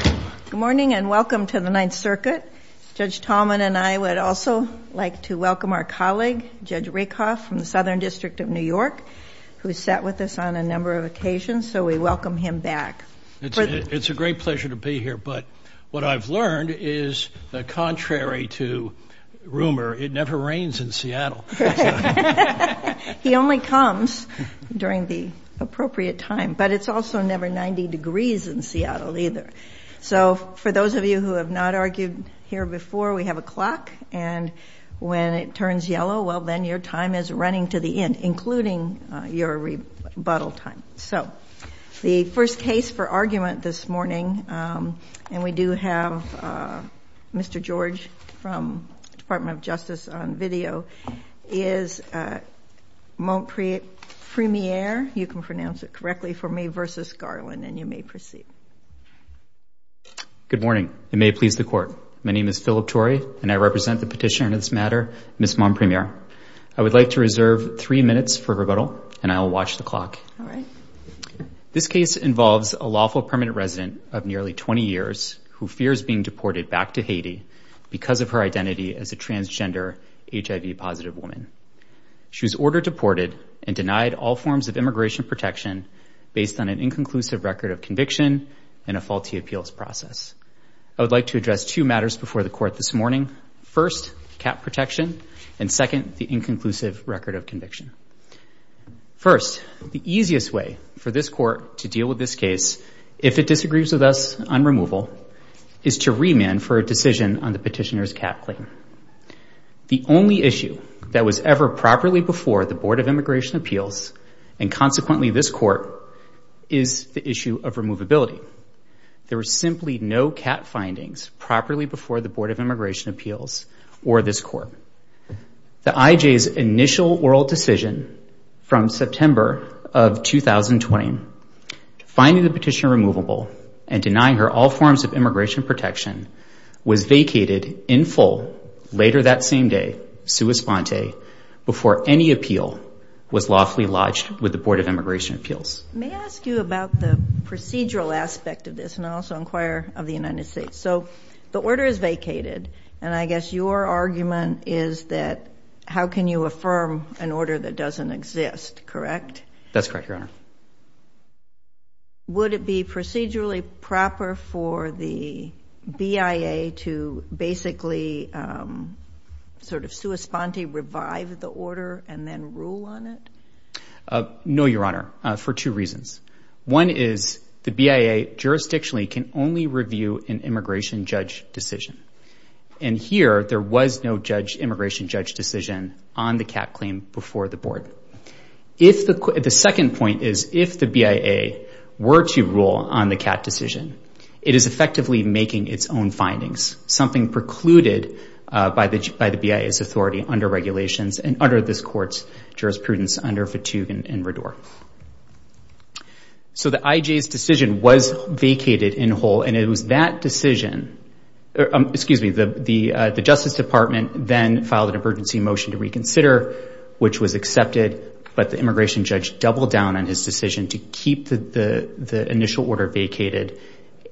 Good morning and welcome to the Ninth Circuit. Judge Tallman and I would also like to welcome our colleague Judge Rakoff from the Southern District of New York who sat with us on a number of occasions so we welcome him back. It's a great pleasure to be here but what I've learned is the contrary to rumor it never rains in Seattle. He only comes during the appropriate time but it's also never 90 degrees in Seattle either. So for those of you who have not argued here before we have a clock and when it turns yellow well then your time is running to the end including your rebuttal time. So the first case for argument this morning and we do have Mr. George from Department of Justice on you may proceed. Good morning. It may please the court. My name is Phillip Tory and I represent the petitioner in this matter, Ms. Mompremier. I would like to reserve three minutes for rebuttal and I'll watch the clock. This case involves a lawful permanent resident of nearly 20 years who fears being deported back to Haiti because of her identity as a transgender HIV positive woman. She was ordered deported and denied all forms of immigration protection based on an inconclusive record of conviction and a faulty appeals process. I would like to address two matters before the court this morning. First, cap protection and second, the inconclusive record of conviction. First, the easiest way for this court to deal with this case if it disagrees with us on removal is to remand for a decision on the petitioner's cap claim. The only issue that was ever properly before the Board of Immigration Appeals and consequently this court, is the issue of removability. There were simply no cap findings properly before the Board of Immigration Appeals or this court. The IJ's initial oral decision from September of 2020 to finding the petitioner removable and denying her all forms of immigration protection was vacated in full later that same day, sua sponte, before any appeal was lawfully lodged with the Board of Immigration Appeals. May I ask you about the procedural aspect of this and I'll also inquire of the United States. So the order is vacated and I guess your argument is that how can you affirm an order that doesn't exist, correct? That's correct, Your Honor. Would it be procedurally proper for the BIA to basically sort of sua sponte, revive the order and then rule on it? No, Your Honor, for two reasons. One is the BIA jurisdictionally can only review an immigration judge decision and here there was no judge, immigration judge decision on the cap claim before the board. The second point is if the BIA were to rule on the cap decision, it is effectively making its own findings, something precluded by the BIA's authority under regulations and under this court's jurisprudence under Fatigue and Rador. So the IJ's decision was vacated in whole and it was that decision, excuse me, the Justice Department then filed an emergency motion to reconsider which was accepted but the immigration judge doubled down on his decision to keep the initial order vacated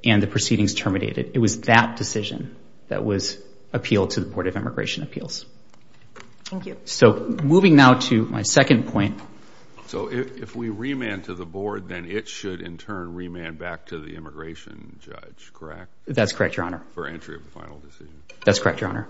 and the proceedings terminated. It was that decision that was appealed to the Board of Immigration Appeals. Thank you. So moving now to my second point. So if we remand to the board then it should in turn remand back to the immigration judge, correct? That's correct, Your Honor. For entry of the final decision. That's correct, Your Honor.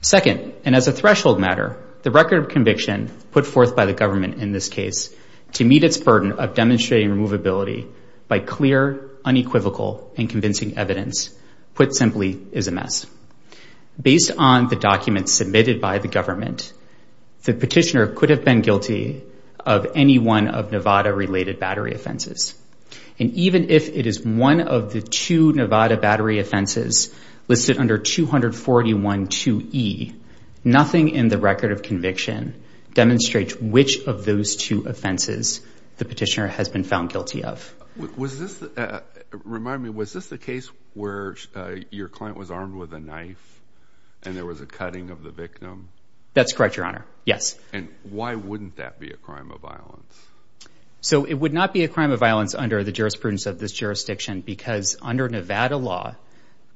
Second, and as a threshold matter, the record of conviction put forth by the government in this case to meet its burden of demonstrating removability by clear, unequivocal, and convincing evidence, put simply, is a mess. Based on the documents submitted by the government, the petitioner could have been guilty of any one of Nevada-related battery offenses. And even if it is one of the two Nevada battery offenses listed under 241.2e, nothing in the record of conviction demonstrates which of those two offenses the petitioner has been found guilty of. Was this, remind me, was this the case where your client was armed with a knife and there was a cutting of the victim? That's correct, Your Honor. Yes. And why wouldn't that be a crime of violence? So it would not be a crime of violence under the jurisprudence of this jurisdiction because under Nevada law,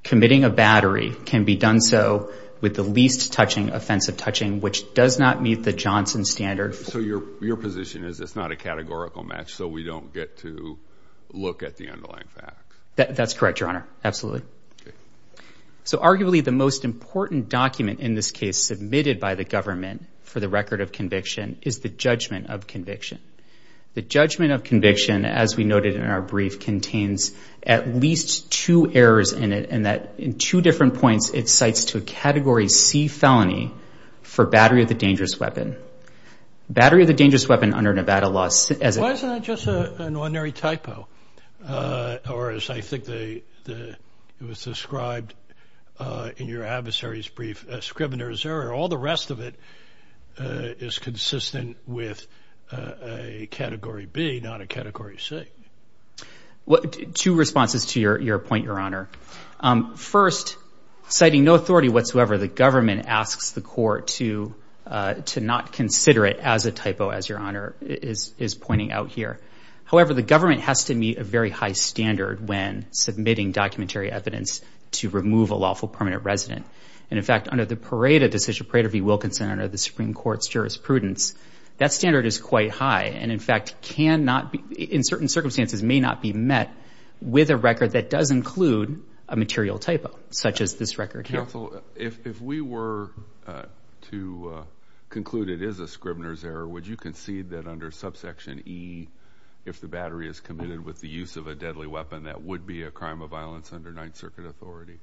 committing a battery can be done so with the least touching offensive touching, which does not meet the Johnson standard. So your position is it's not a categorical match so we don't get to look at the underlying facts? That's correct, Your Honor, absolutely. So arguably the most important document in this case submitted by the government for the record of conviction is the judgment of conviction. The judgment of conviction, as we noted in our brief, contains at least two errors in it and that in two different points it cites to a category C felony for battery of the dangerous weapon. Battery of the dangerous weapon under Nevada law... Why isn't that just an ordinary typo? Or as I think it was described in your adversary's brief, a scrivener's error. All the rest of it is consistent with a category B, not a category C. Two responses to your point, Your Honor. First, citing no authority whatsoever, the government asks the court to to not consider it as a typo, as Your Honor is pointing out here. However, the government has to meet a very high standard when submitting documentary evidence to remove a lawful permanent resident. And in fact, under the Decision Parade of E. Wilkinson under the Supreme Court's jurisprudence, that standard is quite high and in fact can not be, in certain cases, conclude a material typo, such as this record here. Counsel, if we were to conclude it is a scrivener's error, would you concede that under subsection E, if the battery is committed with the use of a deadly weapon, that would be a crime of violence under Ninth Circuit authority?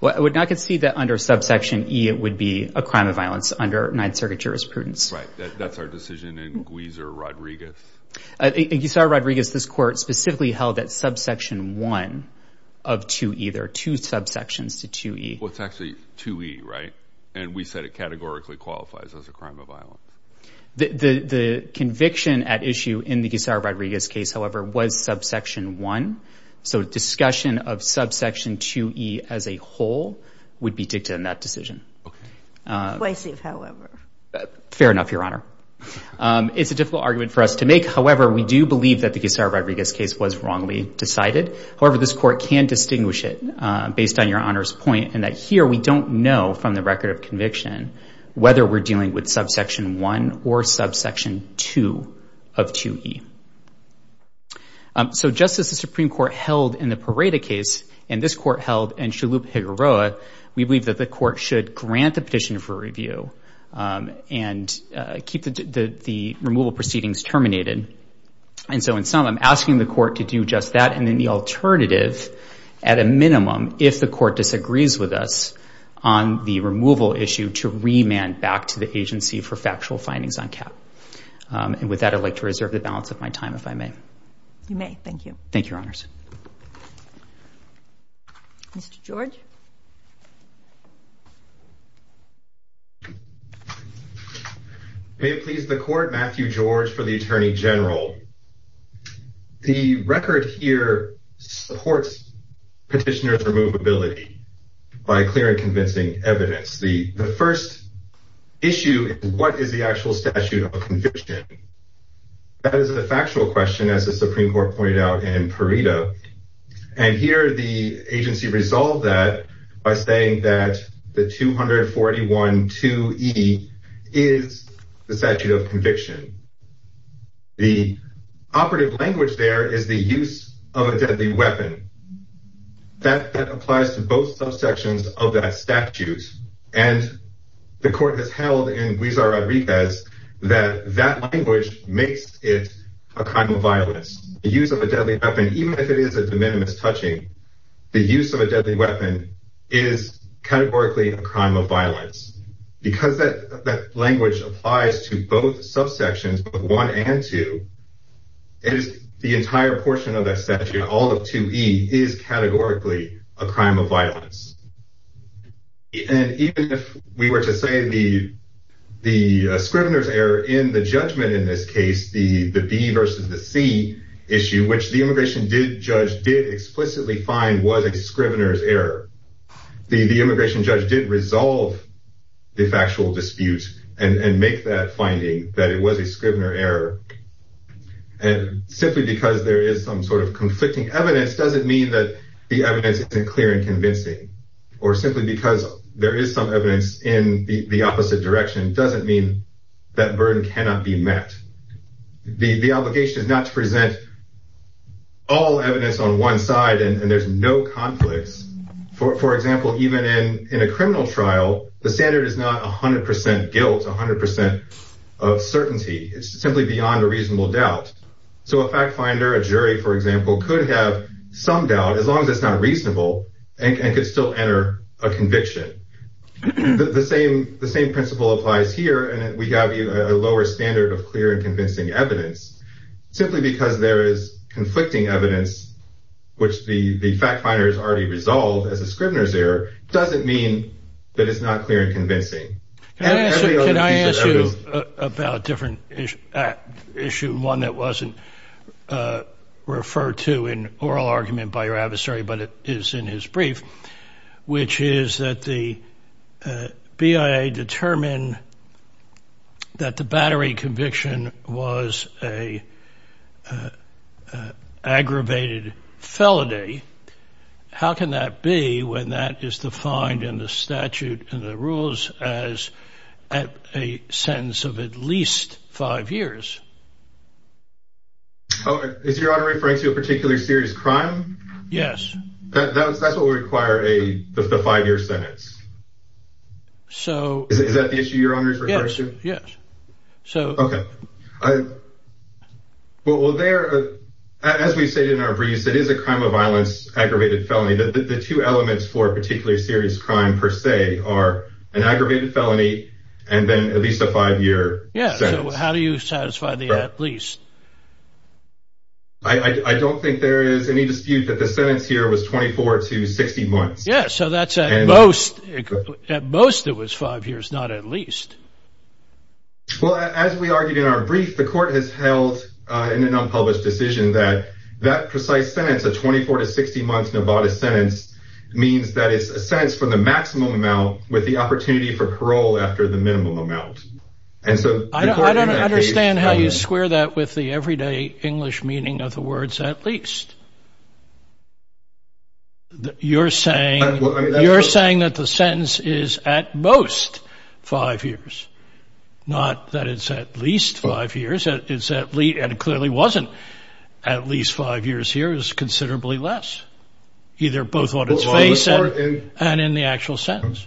Well, I would not concede that under subsection E, it would be a crime of violence under Ninth Circuit jurisprudence. Right. That's our decision in Gweezer-Rodriguez. In Gweezer-Rodriguez, this court specifically held that subsection 1 of 2E, there are two subsections to 2E. Well, it's actually 2E, right? And we said it categorically qualifies as a crime of violence. The conviction at issue in the Gweezer-Rodriguez case, however, was subsection 1. So discussion of subsection 2E as a whole would be dicta in that decision. Okay. Explicit, however. Fair enough, Your Honor. It's a difficult argument for us to make. However, we do believe that the Gweezer-Rodriguez case was wrongly decided. However, this court can distinguish it based on Your Honor's point in that here, we don't know from the record of conviction whether we're dealing with subsection 1 or subsection 2 of 2E. So just as the Supreme Court held in the Pareto case, and this court held in Shalhoub-Higueroa, we believe that the court should grant the petition for review and keep the court to do just that. And then the alternative, at a minimum, if the court disagrees with us on the removal issue, to remand back to the Agency for Factual Findings on cap. And with that, I'd like to reserve the balance of my time, if I may. You may. Thank you. Thank you, Your Honors. Mr. George. May it please the Court, Matthew George for the Attorney General. The record here supports petitioner's removability by clear and convincing evidence. The first issue is what is the actual statute of conviction? That is a factual question, as the Supreme Court pointed out in Pareto. And here, the Agency resolved that by saying that the 241-2E is the statute of conviction. The operative language there is the use of a deadly weapon. That applies to both subsections of that statute. And the court has held in Huizar-Rodriguez that that language makes it a crime of violence. The use of a deadly weapon, even if it is a de minimis touching, the use of a deadly weapon is categorically a crime of violence. Because that language applies to both subsections of 1 and 2, the entire portion of that statute, all of 2E, is categorically a crime of violence. And even if we were to say the scrivener's error in the judgment in this case, the B versus the C issue, which the immigration judge did explicitly find was a scrivener's error, the immigration judge did resolve the factual dispute and make that finding that it was a scrivener error. And simply because there is some sort of conflicting evidence doesn't mean that the evidence isn't clear and convincing. Or simply because there is some evidence in the opposite direction doesn't mean that burden cannot be met. The obligation is not to present all evidence on one side and there's no conflicts. For example, even in a criminal trial, the standard is not 100% guilt, 100% of certainty. It's simply beyond a reasonable doubt. So a fact finder, a jury, for example, could have some doubt, as long as it's not reasonable, and could still enter a conviction. The same principle applies here. And we have a lower standard of clear and convincing evidence, simply because there is conflicting evidence, which the fact finder has already resolved as a scrivener's error, doesn't mean that it's not clear and convincing. Can I ask you about a different issue, one that wasn't referred to in oral argument by your adversary, but it is in his brief, which is that the BIA determined that the battery conviction was a aggravated felony. How can that be when that is defined in the statute and the rules as a sentence of at least five years? Oh, is your honoree referring to a particular serious crime? Yes. That's what would require a five year sentence. Is that the issue your honoree is referring to? Yes, yes. Okay. Well, as we said in our brief, it is a crime of violence, aggravated felony. The two elements for a particular serious crime, per se, are an aggravated felony, and then at least a five year sentence. Yeah, so how do you satisfy the at least? I don't think there is any dispute that the sentence here was 24 to 60 months. Yeah, so that's at most, at most it was five years, not at least. Well, as we argued in our brief, the court has held in an unpublished decision that that precise sentence of 24 to 60 months in a bodice sentence means that it's a sentence for the maximum amount with the opportunity for parole after the minimum amount. And so I don't understand how you square that with the everyday English meaning of the words at least. You're saying that the sentence is at most five years, not that it's at least five years. It's at least, and it clearly wasn't at least five years here, is considerably less, either both on its face and in the actual sentence.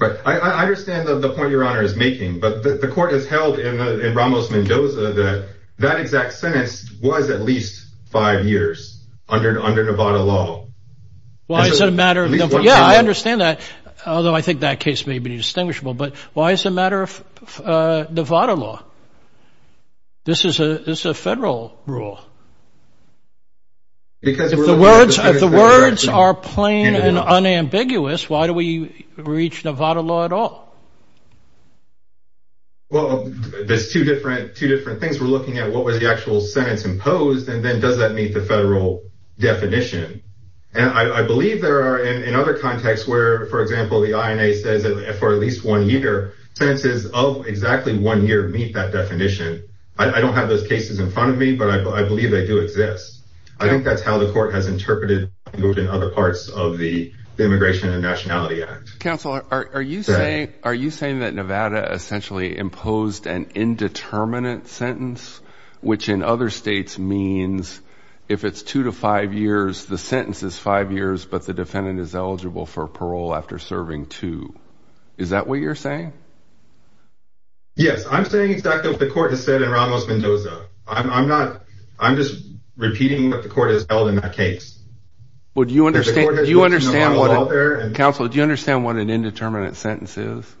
Right. I understand the point your honor is making, but the court has held in Ramos-Mendoza that that exact sentence was at least five years. Five years under Nevada law. Why is it a matter of, yeah, I understand that, although I think that case may be distinguishable, but why is it a matter of Nevada law? This is a federal rule. Because if the words are plain and unambiguous, why do we reach Nevada law at all? Well, there's two different things. We're looking at what was the actual sentence imposed, and then does that meet the federal definition? And I believe there are in other contexts where, for example, the INA says that for at least one year, sentences of exactly one year meet that definition. I don't have those cases in front of me, but I believe they do exist. I think that's how the court has interpreted in other parts of the Immigration and Nationality Act. Counselor, are you saying that Nevada essentially imposed an indeterminate sentence, which in other states means if it's two to five years, the sentence is five years, but the defendant is eligible for parole after serving two? Is that what you're saying? Yes, I'm saying exactly what the court has said in Ramos-Mendoza. I'm not, I'm just repeating what the court has held in that case. Would you understand, do you understand, Counselor, do you understand what an indeterminate sentence is?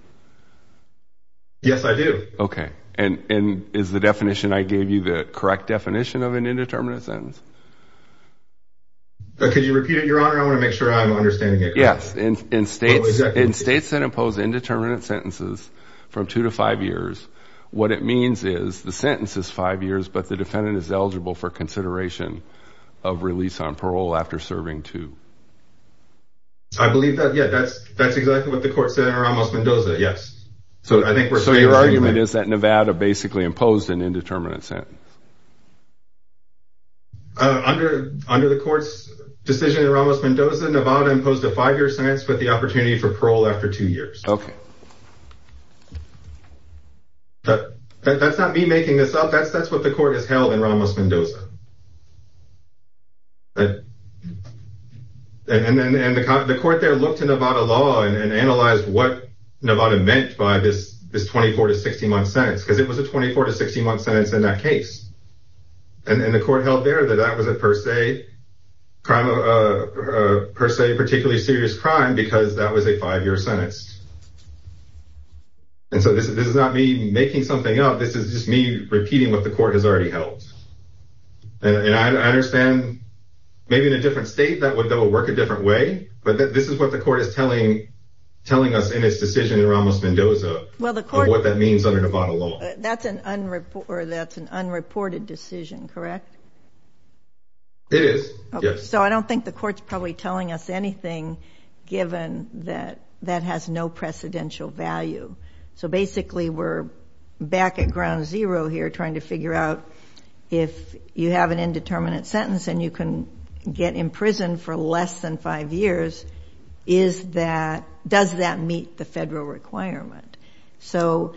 Yes, I do. Okay, and is the definition I gave you the correct definition of an indeterminate sentence? Could you repeat it, Your Honor? I want to make sure I'm understanding it. Yes, in states that impose indeterminate sentences from two to five years, what it means is the sentence is five years, but the defendant is eligible for consideration of release on parole after serving two. I believe that, yeah, that's exactly what the court said in Ramos-Mendoza, yes. So your argument is that Nevada basically imposed an indeterminate sentence? Under the court's decision in Ramos-Mendoza, Nevada imposed a five-year sentence, but the opportunity for parole after two years. Okay. That's not me making this up, that's what the court has held in Ramos-Mendoza. And the court there looked at Nevada law and analyzed what Nevada meant by this 24-to-60-month sentence, because it was a 24-to-60-month sentence in that case. And the court held there that that was a per se particularly serious crime because that was a five-year sentence. And so this is not me making something up, this is just me repeating what the court has already held. And I understand maybe in a different state that would work a different way, but this is what the court is telling us in its decision in Ramos-Mendoza. What that means under Nevada law. That's an unreported decision, correct? It is, yes. So I don't think the court's probably telling us anything given that that has no precedential value. So basically we're back at ground zero here trying to figure out if you have an indeterminate sentence and you can get imprisoned for less than five years, does that meet the federal requirement? So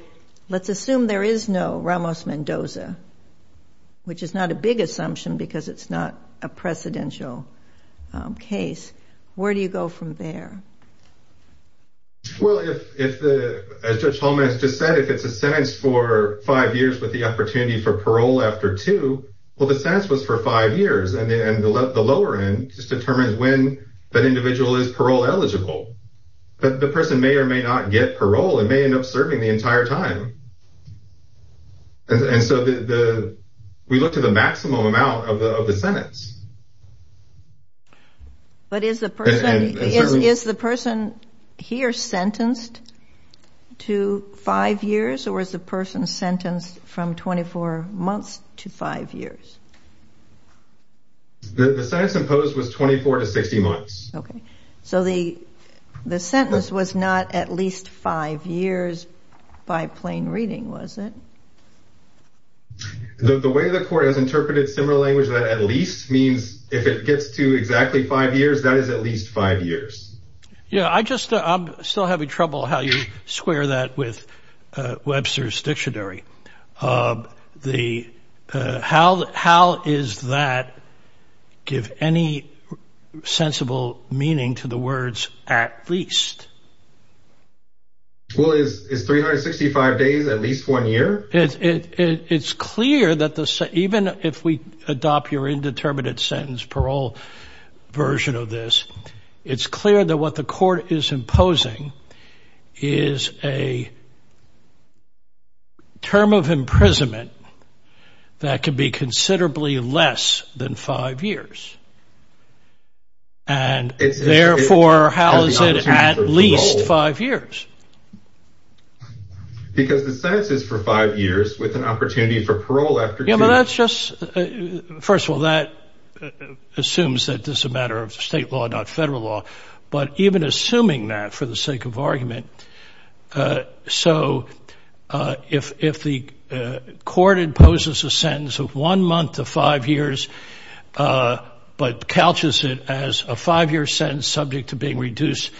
let's assume there is no Ramos-Mendoza, which is not a big assumption because it's not a precedential case. Where do you go from there? Well, as Judge Holman has just said, if it's a sentence for five years with the opportunity for parole after two, well, the sentence was for five years. And the lower end just determines when that individual is parole eligible. But the person may or may not get parole and may end up serving the entire time. And so we look to the maximum amount of the sentence. But is the person here sentenced to five years or is the person sentenced from 24 months to five years? The sentence imposed was 24 to 60 months. Okay. So the sentence was not at least five years by plain reading, was it? The way the court has interpreted similar language, that at least means if it gets to exactly five years, that is at least five years. Yeah, I just, I'm still having trouble how you square that with Webster's give any sensible meaning to the words at least. Well, is 365 days at least one year? It's clear that even if we adopt your indeterminate sentence parole version of this, it's clear that what the court is imposing is a term of imprisonment that can be considerably less than five years. And therefore, how is it at least five years? Because the sentence is for five years with an opportunity for parole after two. Yeah, but that's just, first of all, that assumes that this is a matter of state law, not federal law, but even assuming that for the sake of argument. Uh, so, uh, if, if the, uh, court imposes a sentence of one month to five years, uh, but couches it as a five year sentence subject to being reduced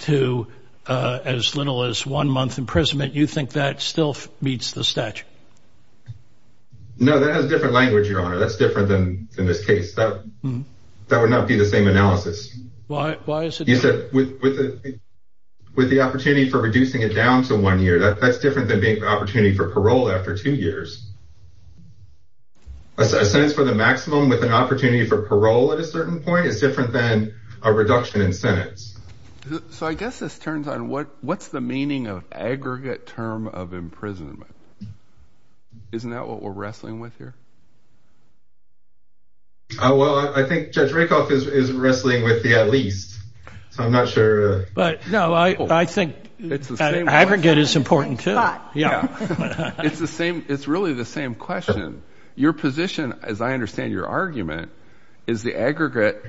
to, uh, as little as one month imprisonment, you think that still meets the statute? No, that has a different language. Your honor. That's different than in this case, that would not be the same analysis. Why? The opportunity for reducing it down to one year, that that's different than being the opportunity for parole after two years, a sentence for the maximum with an opportunity for parole at a certain point is different than a reduction in sentence. So I guess this turns on what, what's the meaning of aggregate term of imprisonment. Isn't that what we're wrestling with here? Oh, well, I think judge Rakoff is wrestling with the, at least, so I'm not sure, but no, I, I think aggregate is important too. Yeah. It's the same. It's really the same question. Your position, as I understand your argument is the aggregate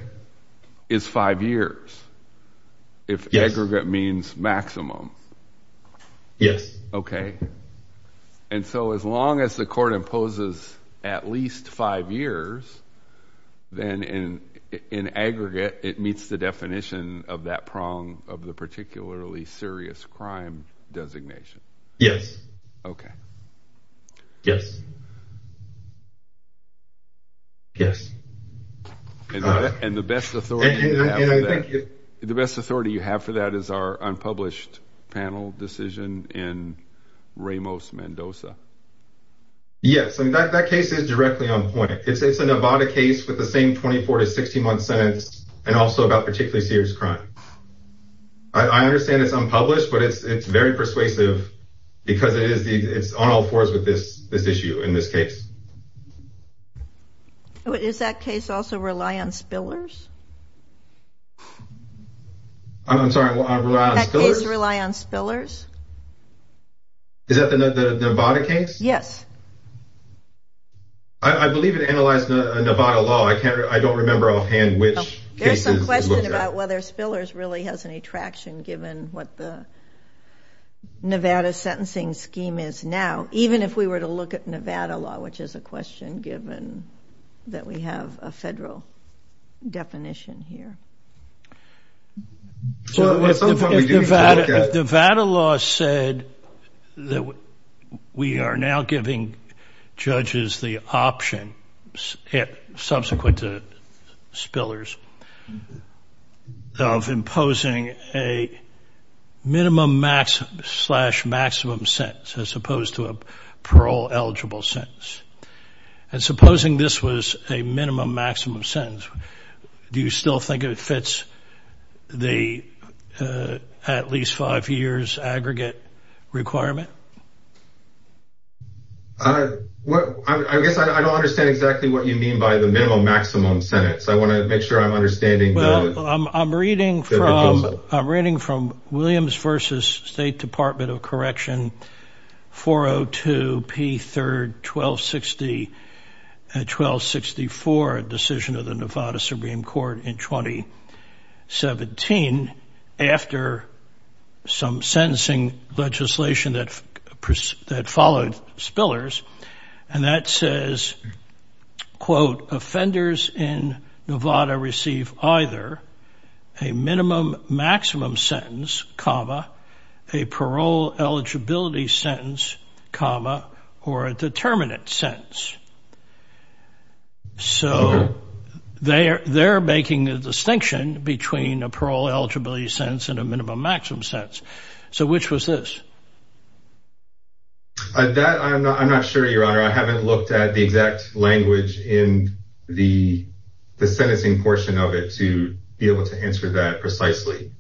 is five years. If aggregate means maximum. Yes. Okay. And so as long as the court imposes at least five years, then in, in aggregate, it meets the definition of that prong of the particularly serious crime designation. Yes. Okay. Yes. Yes. And the best authority, the best authority you have for that is our unpublished panel decision in Ramos Mendoza. Yes. I mean, that, that case is directly on point. It's, it's a Nevada case with the same 24 to 60 month sentence, and also about particularly serious crime. I understand it's unpublished, but it's, it's very persuasive because it is the, it's on all fours with this, this issue in this case. Oh, is that case also rely on spillers? I'm sorry. Well, I rely on spillers. Rely on spillers. Is that the Nevada case? Yes. I, I believe it analyzed the Nevada law. I can't, I don't remember offhand which cases it looked at. There's some question about whether spillers really has any traction given what the Nevada sentencing scheme is now, even if we were to look at Nevada law, which is a question given that we have a federal definition here. The Nevada law said that we are now giving judges the option, subsequent to spillers, of imposing a minimum max slash maximum sentence as opposed to a parole eligible sentence. And supposing this was a minimum maximum sentence, do you still think it fits the at least five years aggregate requirement? I guess I don't understand exactly what you mean by the minimum maximum sentence. I want to make sure I'm understanding. Well, I'm reading from, I'm reading from Williams versus State Department of 17 after some sentencing legislation that, that followed spillers. And that says, quote, offenders in Nevada receive either a minimum maximum sentence, comma, a parole eligibility sentence, comma, or a determinant sentence. So they're, they're making a distinction between a parole eligibility sentence and a minimum maximum sentence. So which was this? That, I'm not, I'm not sure, Your Honor. I haven't looked at the exact language in the, the sentencing portion of it to be able to answer that precisely.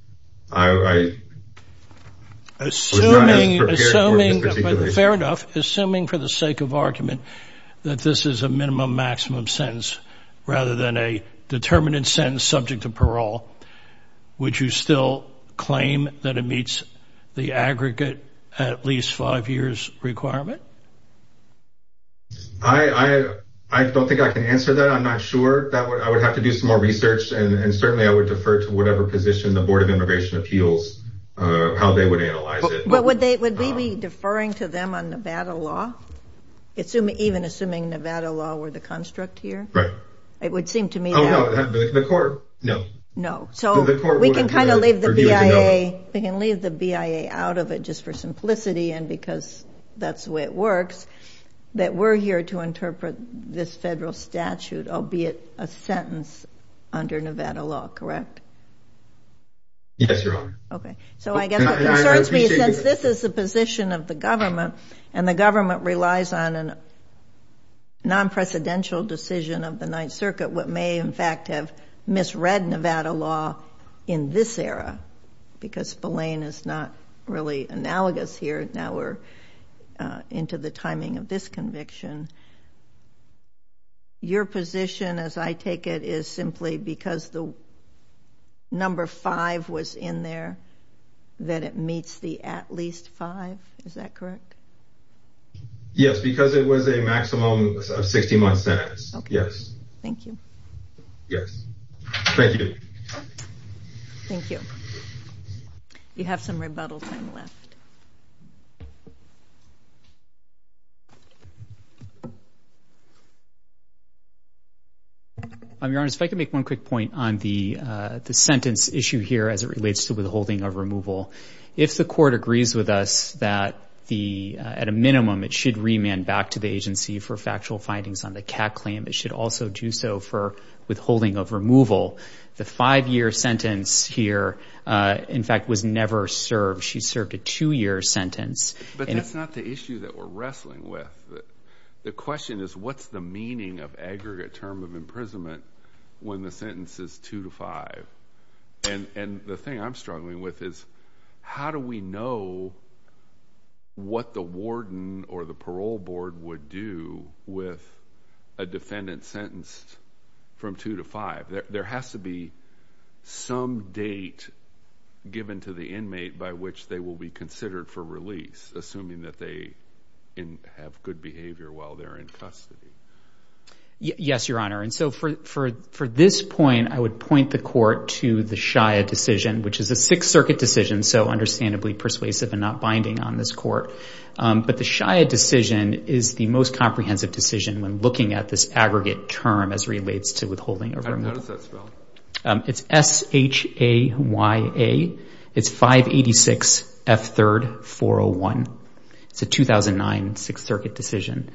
I, I was not as prepared for this particular issue. Fair enough. Assuming for the sake of argument that this is a minimum maximum sentence rather than a determinant sentence subject to parole, would you still claim that it meets the aggregate at least five years requirement? I, I, I don't think I can answer that. I'm not sure. That would, I would have to do some more research and certainly I would defer to whatever position the Board of Immigration Appeals, how they would analyze it. But would they, would we be deferring to them on Nevada law? Assuming, even assuming Nevada law were the construct here? Right. It would seem to me. Oh no, the court, no. No. So we can kind of leave the BIA, we can leave the BIA out of it just for simplicity and because that's the way it works that we're here to interpret this federal statute, albeit a sentence under Nevada law, correct? Yes, Your Honor. Okay. So I guess it concerns me since this is the position of the government and the government relies on a non-precedential decision of the Ninth Circuit, what may in fact have misread Nevada law in this era, because Belain is not really analogous here, now we're into the timing of this conviction. Your position as I take it is simply because the number five was in there. That it meets the at least five. Is that correct? Yes, because it was a maximum of 60 month sentence. Yes. Thank you. Yes. Thank you. Thank you. You have some rebuttal time left. Your Honor, if I could make one quick point on the sentence issue here as it If the court agrees with us that at a minimum it should remand back to the agency for factual findings on the CAC claim, it should also do so for withholding of removal. The five-year sentence here, in fact, was never served. She served a two-year sentence. But that's not the issue that we're wrestling with. The question is what's the meaning of aggregate term of imprisonment when the sentence is two to five? And the thing I'm struggling with is how do we know what the warden or the parole board would do with a defendant sentenced from two to five? There has to be some date given to the inmate by which they will be considered for release, assuming that they have good behavior while they're in custody. Yes, Your Honor. And so for this point, I would point the court to the Shia decision, which is a Sixth Circuit decision, so understandably persuasive and not binding on this court. But the Shia decision is the most comprehensive decision when looking at this aggregate term as relates to withholding or removal. How does that spell? It's S-H-A-Y-A. It's 586 F. 3rd 401. It's a 2009 Sixth Circuit decision.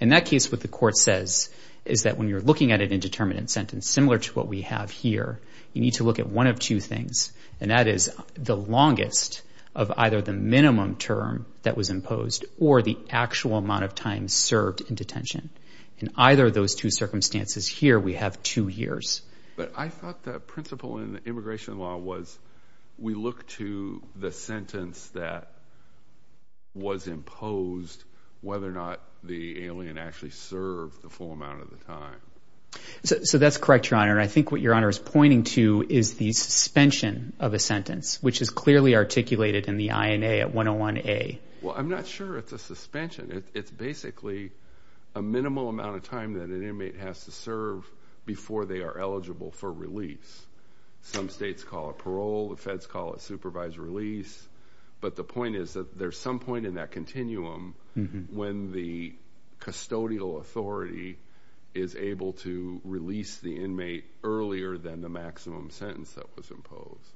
In that case, what the court says is that when you're looking at an indeterminate sentence similar to what we have here, you need to look at one of two things, and that is the longest of either the minimum term that was imposed or the actual amount of time served in detention. In either of those two circumstances here, we have two years. But I thought the principle in immigration law was we look to the the alien actually served the full amount of the time. So that's correct, Your Honor. And I think what Your Honor is pointing to is the suspension of a sentence, which is clearly articulated in the INA at 101A. Well, I'm not sure it's a suspension. It's basically a minimal amount of time that an inmate has to serve before they are eligible for release. Some states call it parole. The feds call it supervised release. But the point is that there's some point in that continuum when the custodial authority is able to release the inmate earlier than the maximum sentence that was imposed.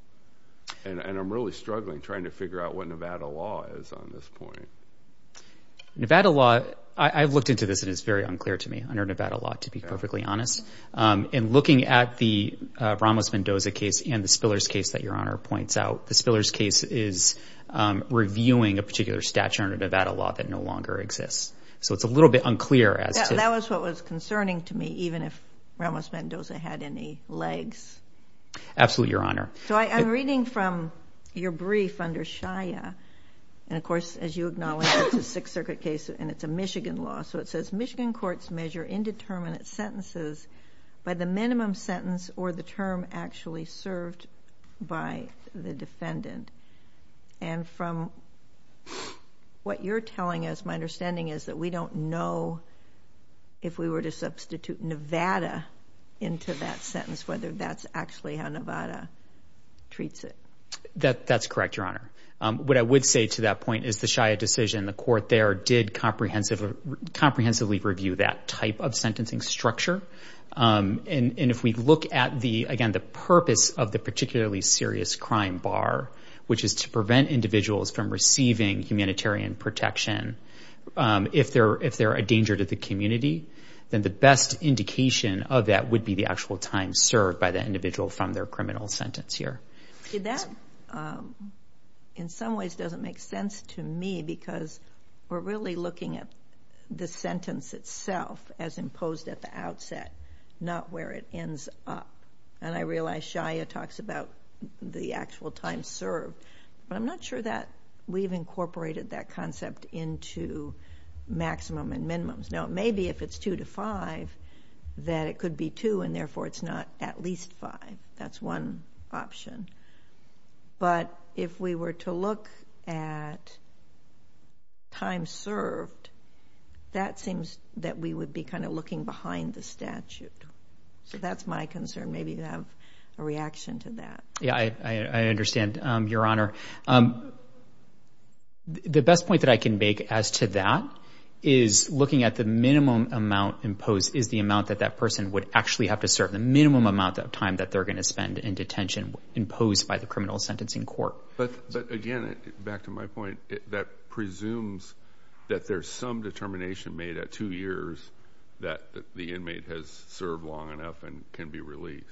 And I'm really struggling trying to figure out what Nevada law is on this point. Nevada law, I've looked into this and it's very unclear to me under Nevada law, to be perfectly honest. In looking at the Ramos-Mendoza case and the Spillers case that Your Honor points out, the Spillers case is reviewing a particular statute under Nevada law that no longer exists. So it's a little bit unclear as to- That was what was concerning to me, even if Ramos-Mendoza had any legs. Absolutely, Your Honor. So I'm reading from your brief under Shia. And of course, as you acknowledge, it's a Sixth Circuit case and it's a Michigan law. So it says, Michigan courts measure indeterminate sentences by the minimum sentence or the term actually served by the defendant. And from what you're telling us, my understanding is that we don't know if we were to substitute Nevada into that sentence, whether that's actually how Nevada treats it. That's correct, Your Honor. What I would say to that point is the Shia decision, the court there did comprehensively review that type of sentencing structure. And if we look at the, again, the purpose of the particularly serious crime bar, which is to prevent individuals from receiving humanitarian protection, if they're a danger to the community, then the best indication of that would be the actual time served by the individual from their criminal sentence here. That, in some ways, doesn't make sense to me because we're really looking at the time set, not where it ends up. And I realize Shia talks about the actual time served, but I'm not sure that we've incorporated that concept into maximum and minimums. Now, it may be, if it's two to five, that it could be two and therefore it's not at least five, that's one option. But if we were to look at time served, that seems that we would be looking behind the statute. So that's my concern, maybe to have a reaction to that. Yeah, I understand, Your Honor. The best point that I can make as to that is looking at the minimum amount imposed is the amount that that person would actually have to serve, the minimum amount of time that they're going to spend in detention imposed by the criminal sentencing court. But again, back to my point, that presumes that there's some determination made at two years that the inmate has served long enough and can be released.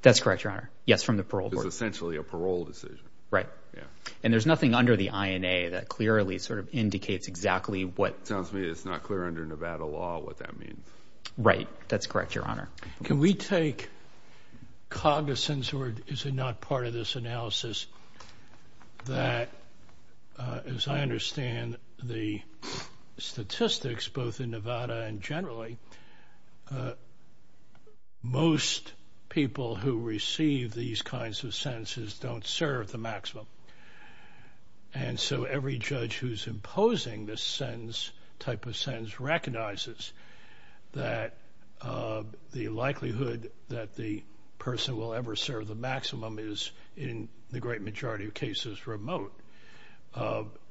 That's correct, Your Honor. Yes. From the parole board. It's essentially a parole decision. Right. Yeah. And there's nothing under the INA that clearly sort of indicates exactly what... Sounds to me it's not clear under Nevada law what that means. Right. That's correct, Your Honor. Can we take cognizance, or is it not part of this analysis, that as I look at the statistics, both in Nevada and generally, most people who receive these kinds of sentences don't serve the maximum. And so every judge who's imposing this sentence, type of sentence, recognizes that the likelihood that the person will ever serve the maximum is in the great majority of cases remote.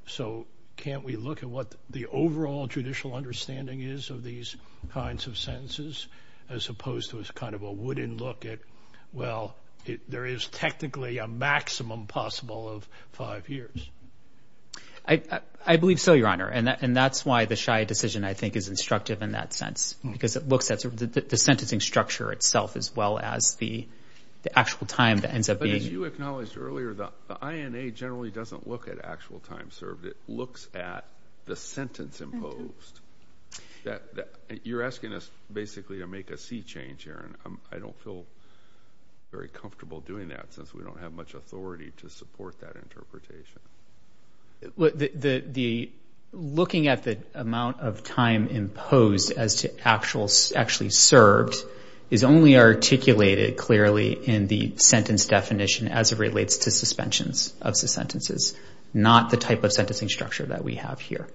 So can't we look at what the overall judicial understanding is of these kinds of sentences, as opposed to as kind of a wooden look at, well, there is technically a maximum possible of five years? I believe so, Your Honor. And that's why the Shia decision, I think, is instructive in that sense, because it looks at the sentencing structure itself, as well as the actual time that ends up being... It doesn't look at actual time served. It looks at the sentence imposed. You're asking us, basically, to make a C change here, and I don't feel very comfortable doing that, since we don't have much authority to support that interpretation. Looking at the amount of time imposed as to actually served is only articulated clearly in the sentence definition as it relates to suspensions of sentences. Not the type of sentencing structure that we have here.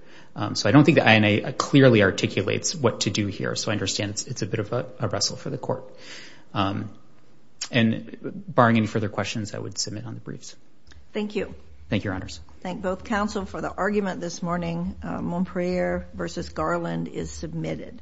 So I don't think the INA clearly articulates what to do here. So I understand it's a bit of a wrestle for the court. And barring any further questions, I would submit on the briefs. Thank you. Thank you, Your Honors. Thank both counsel for the argument this morning. Monprier v. Garland is submitted.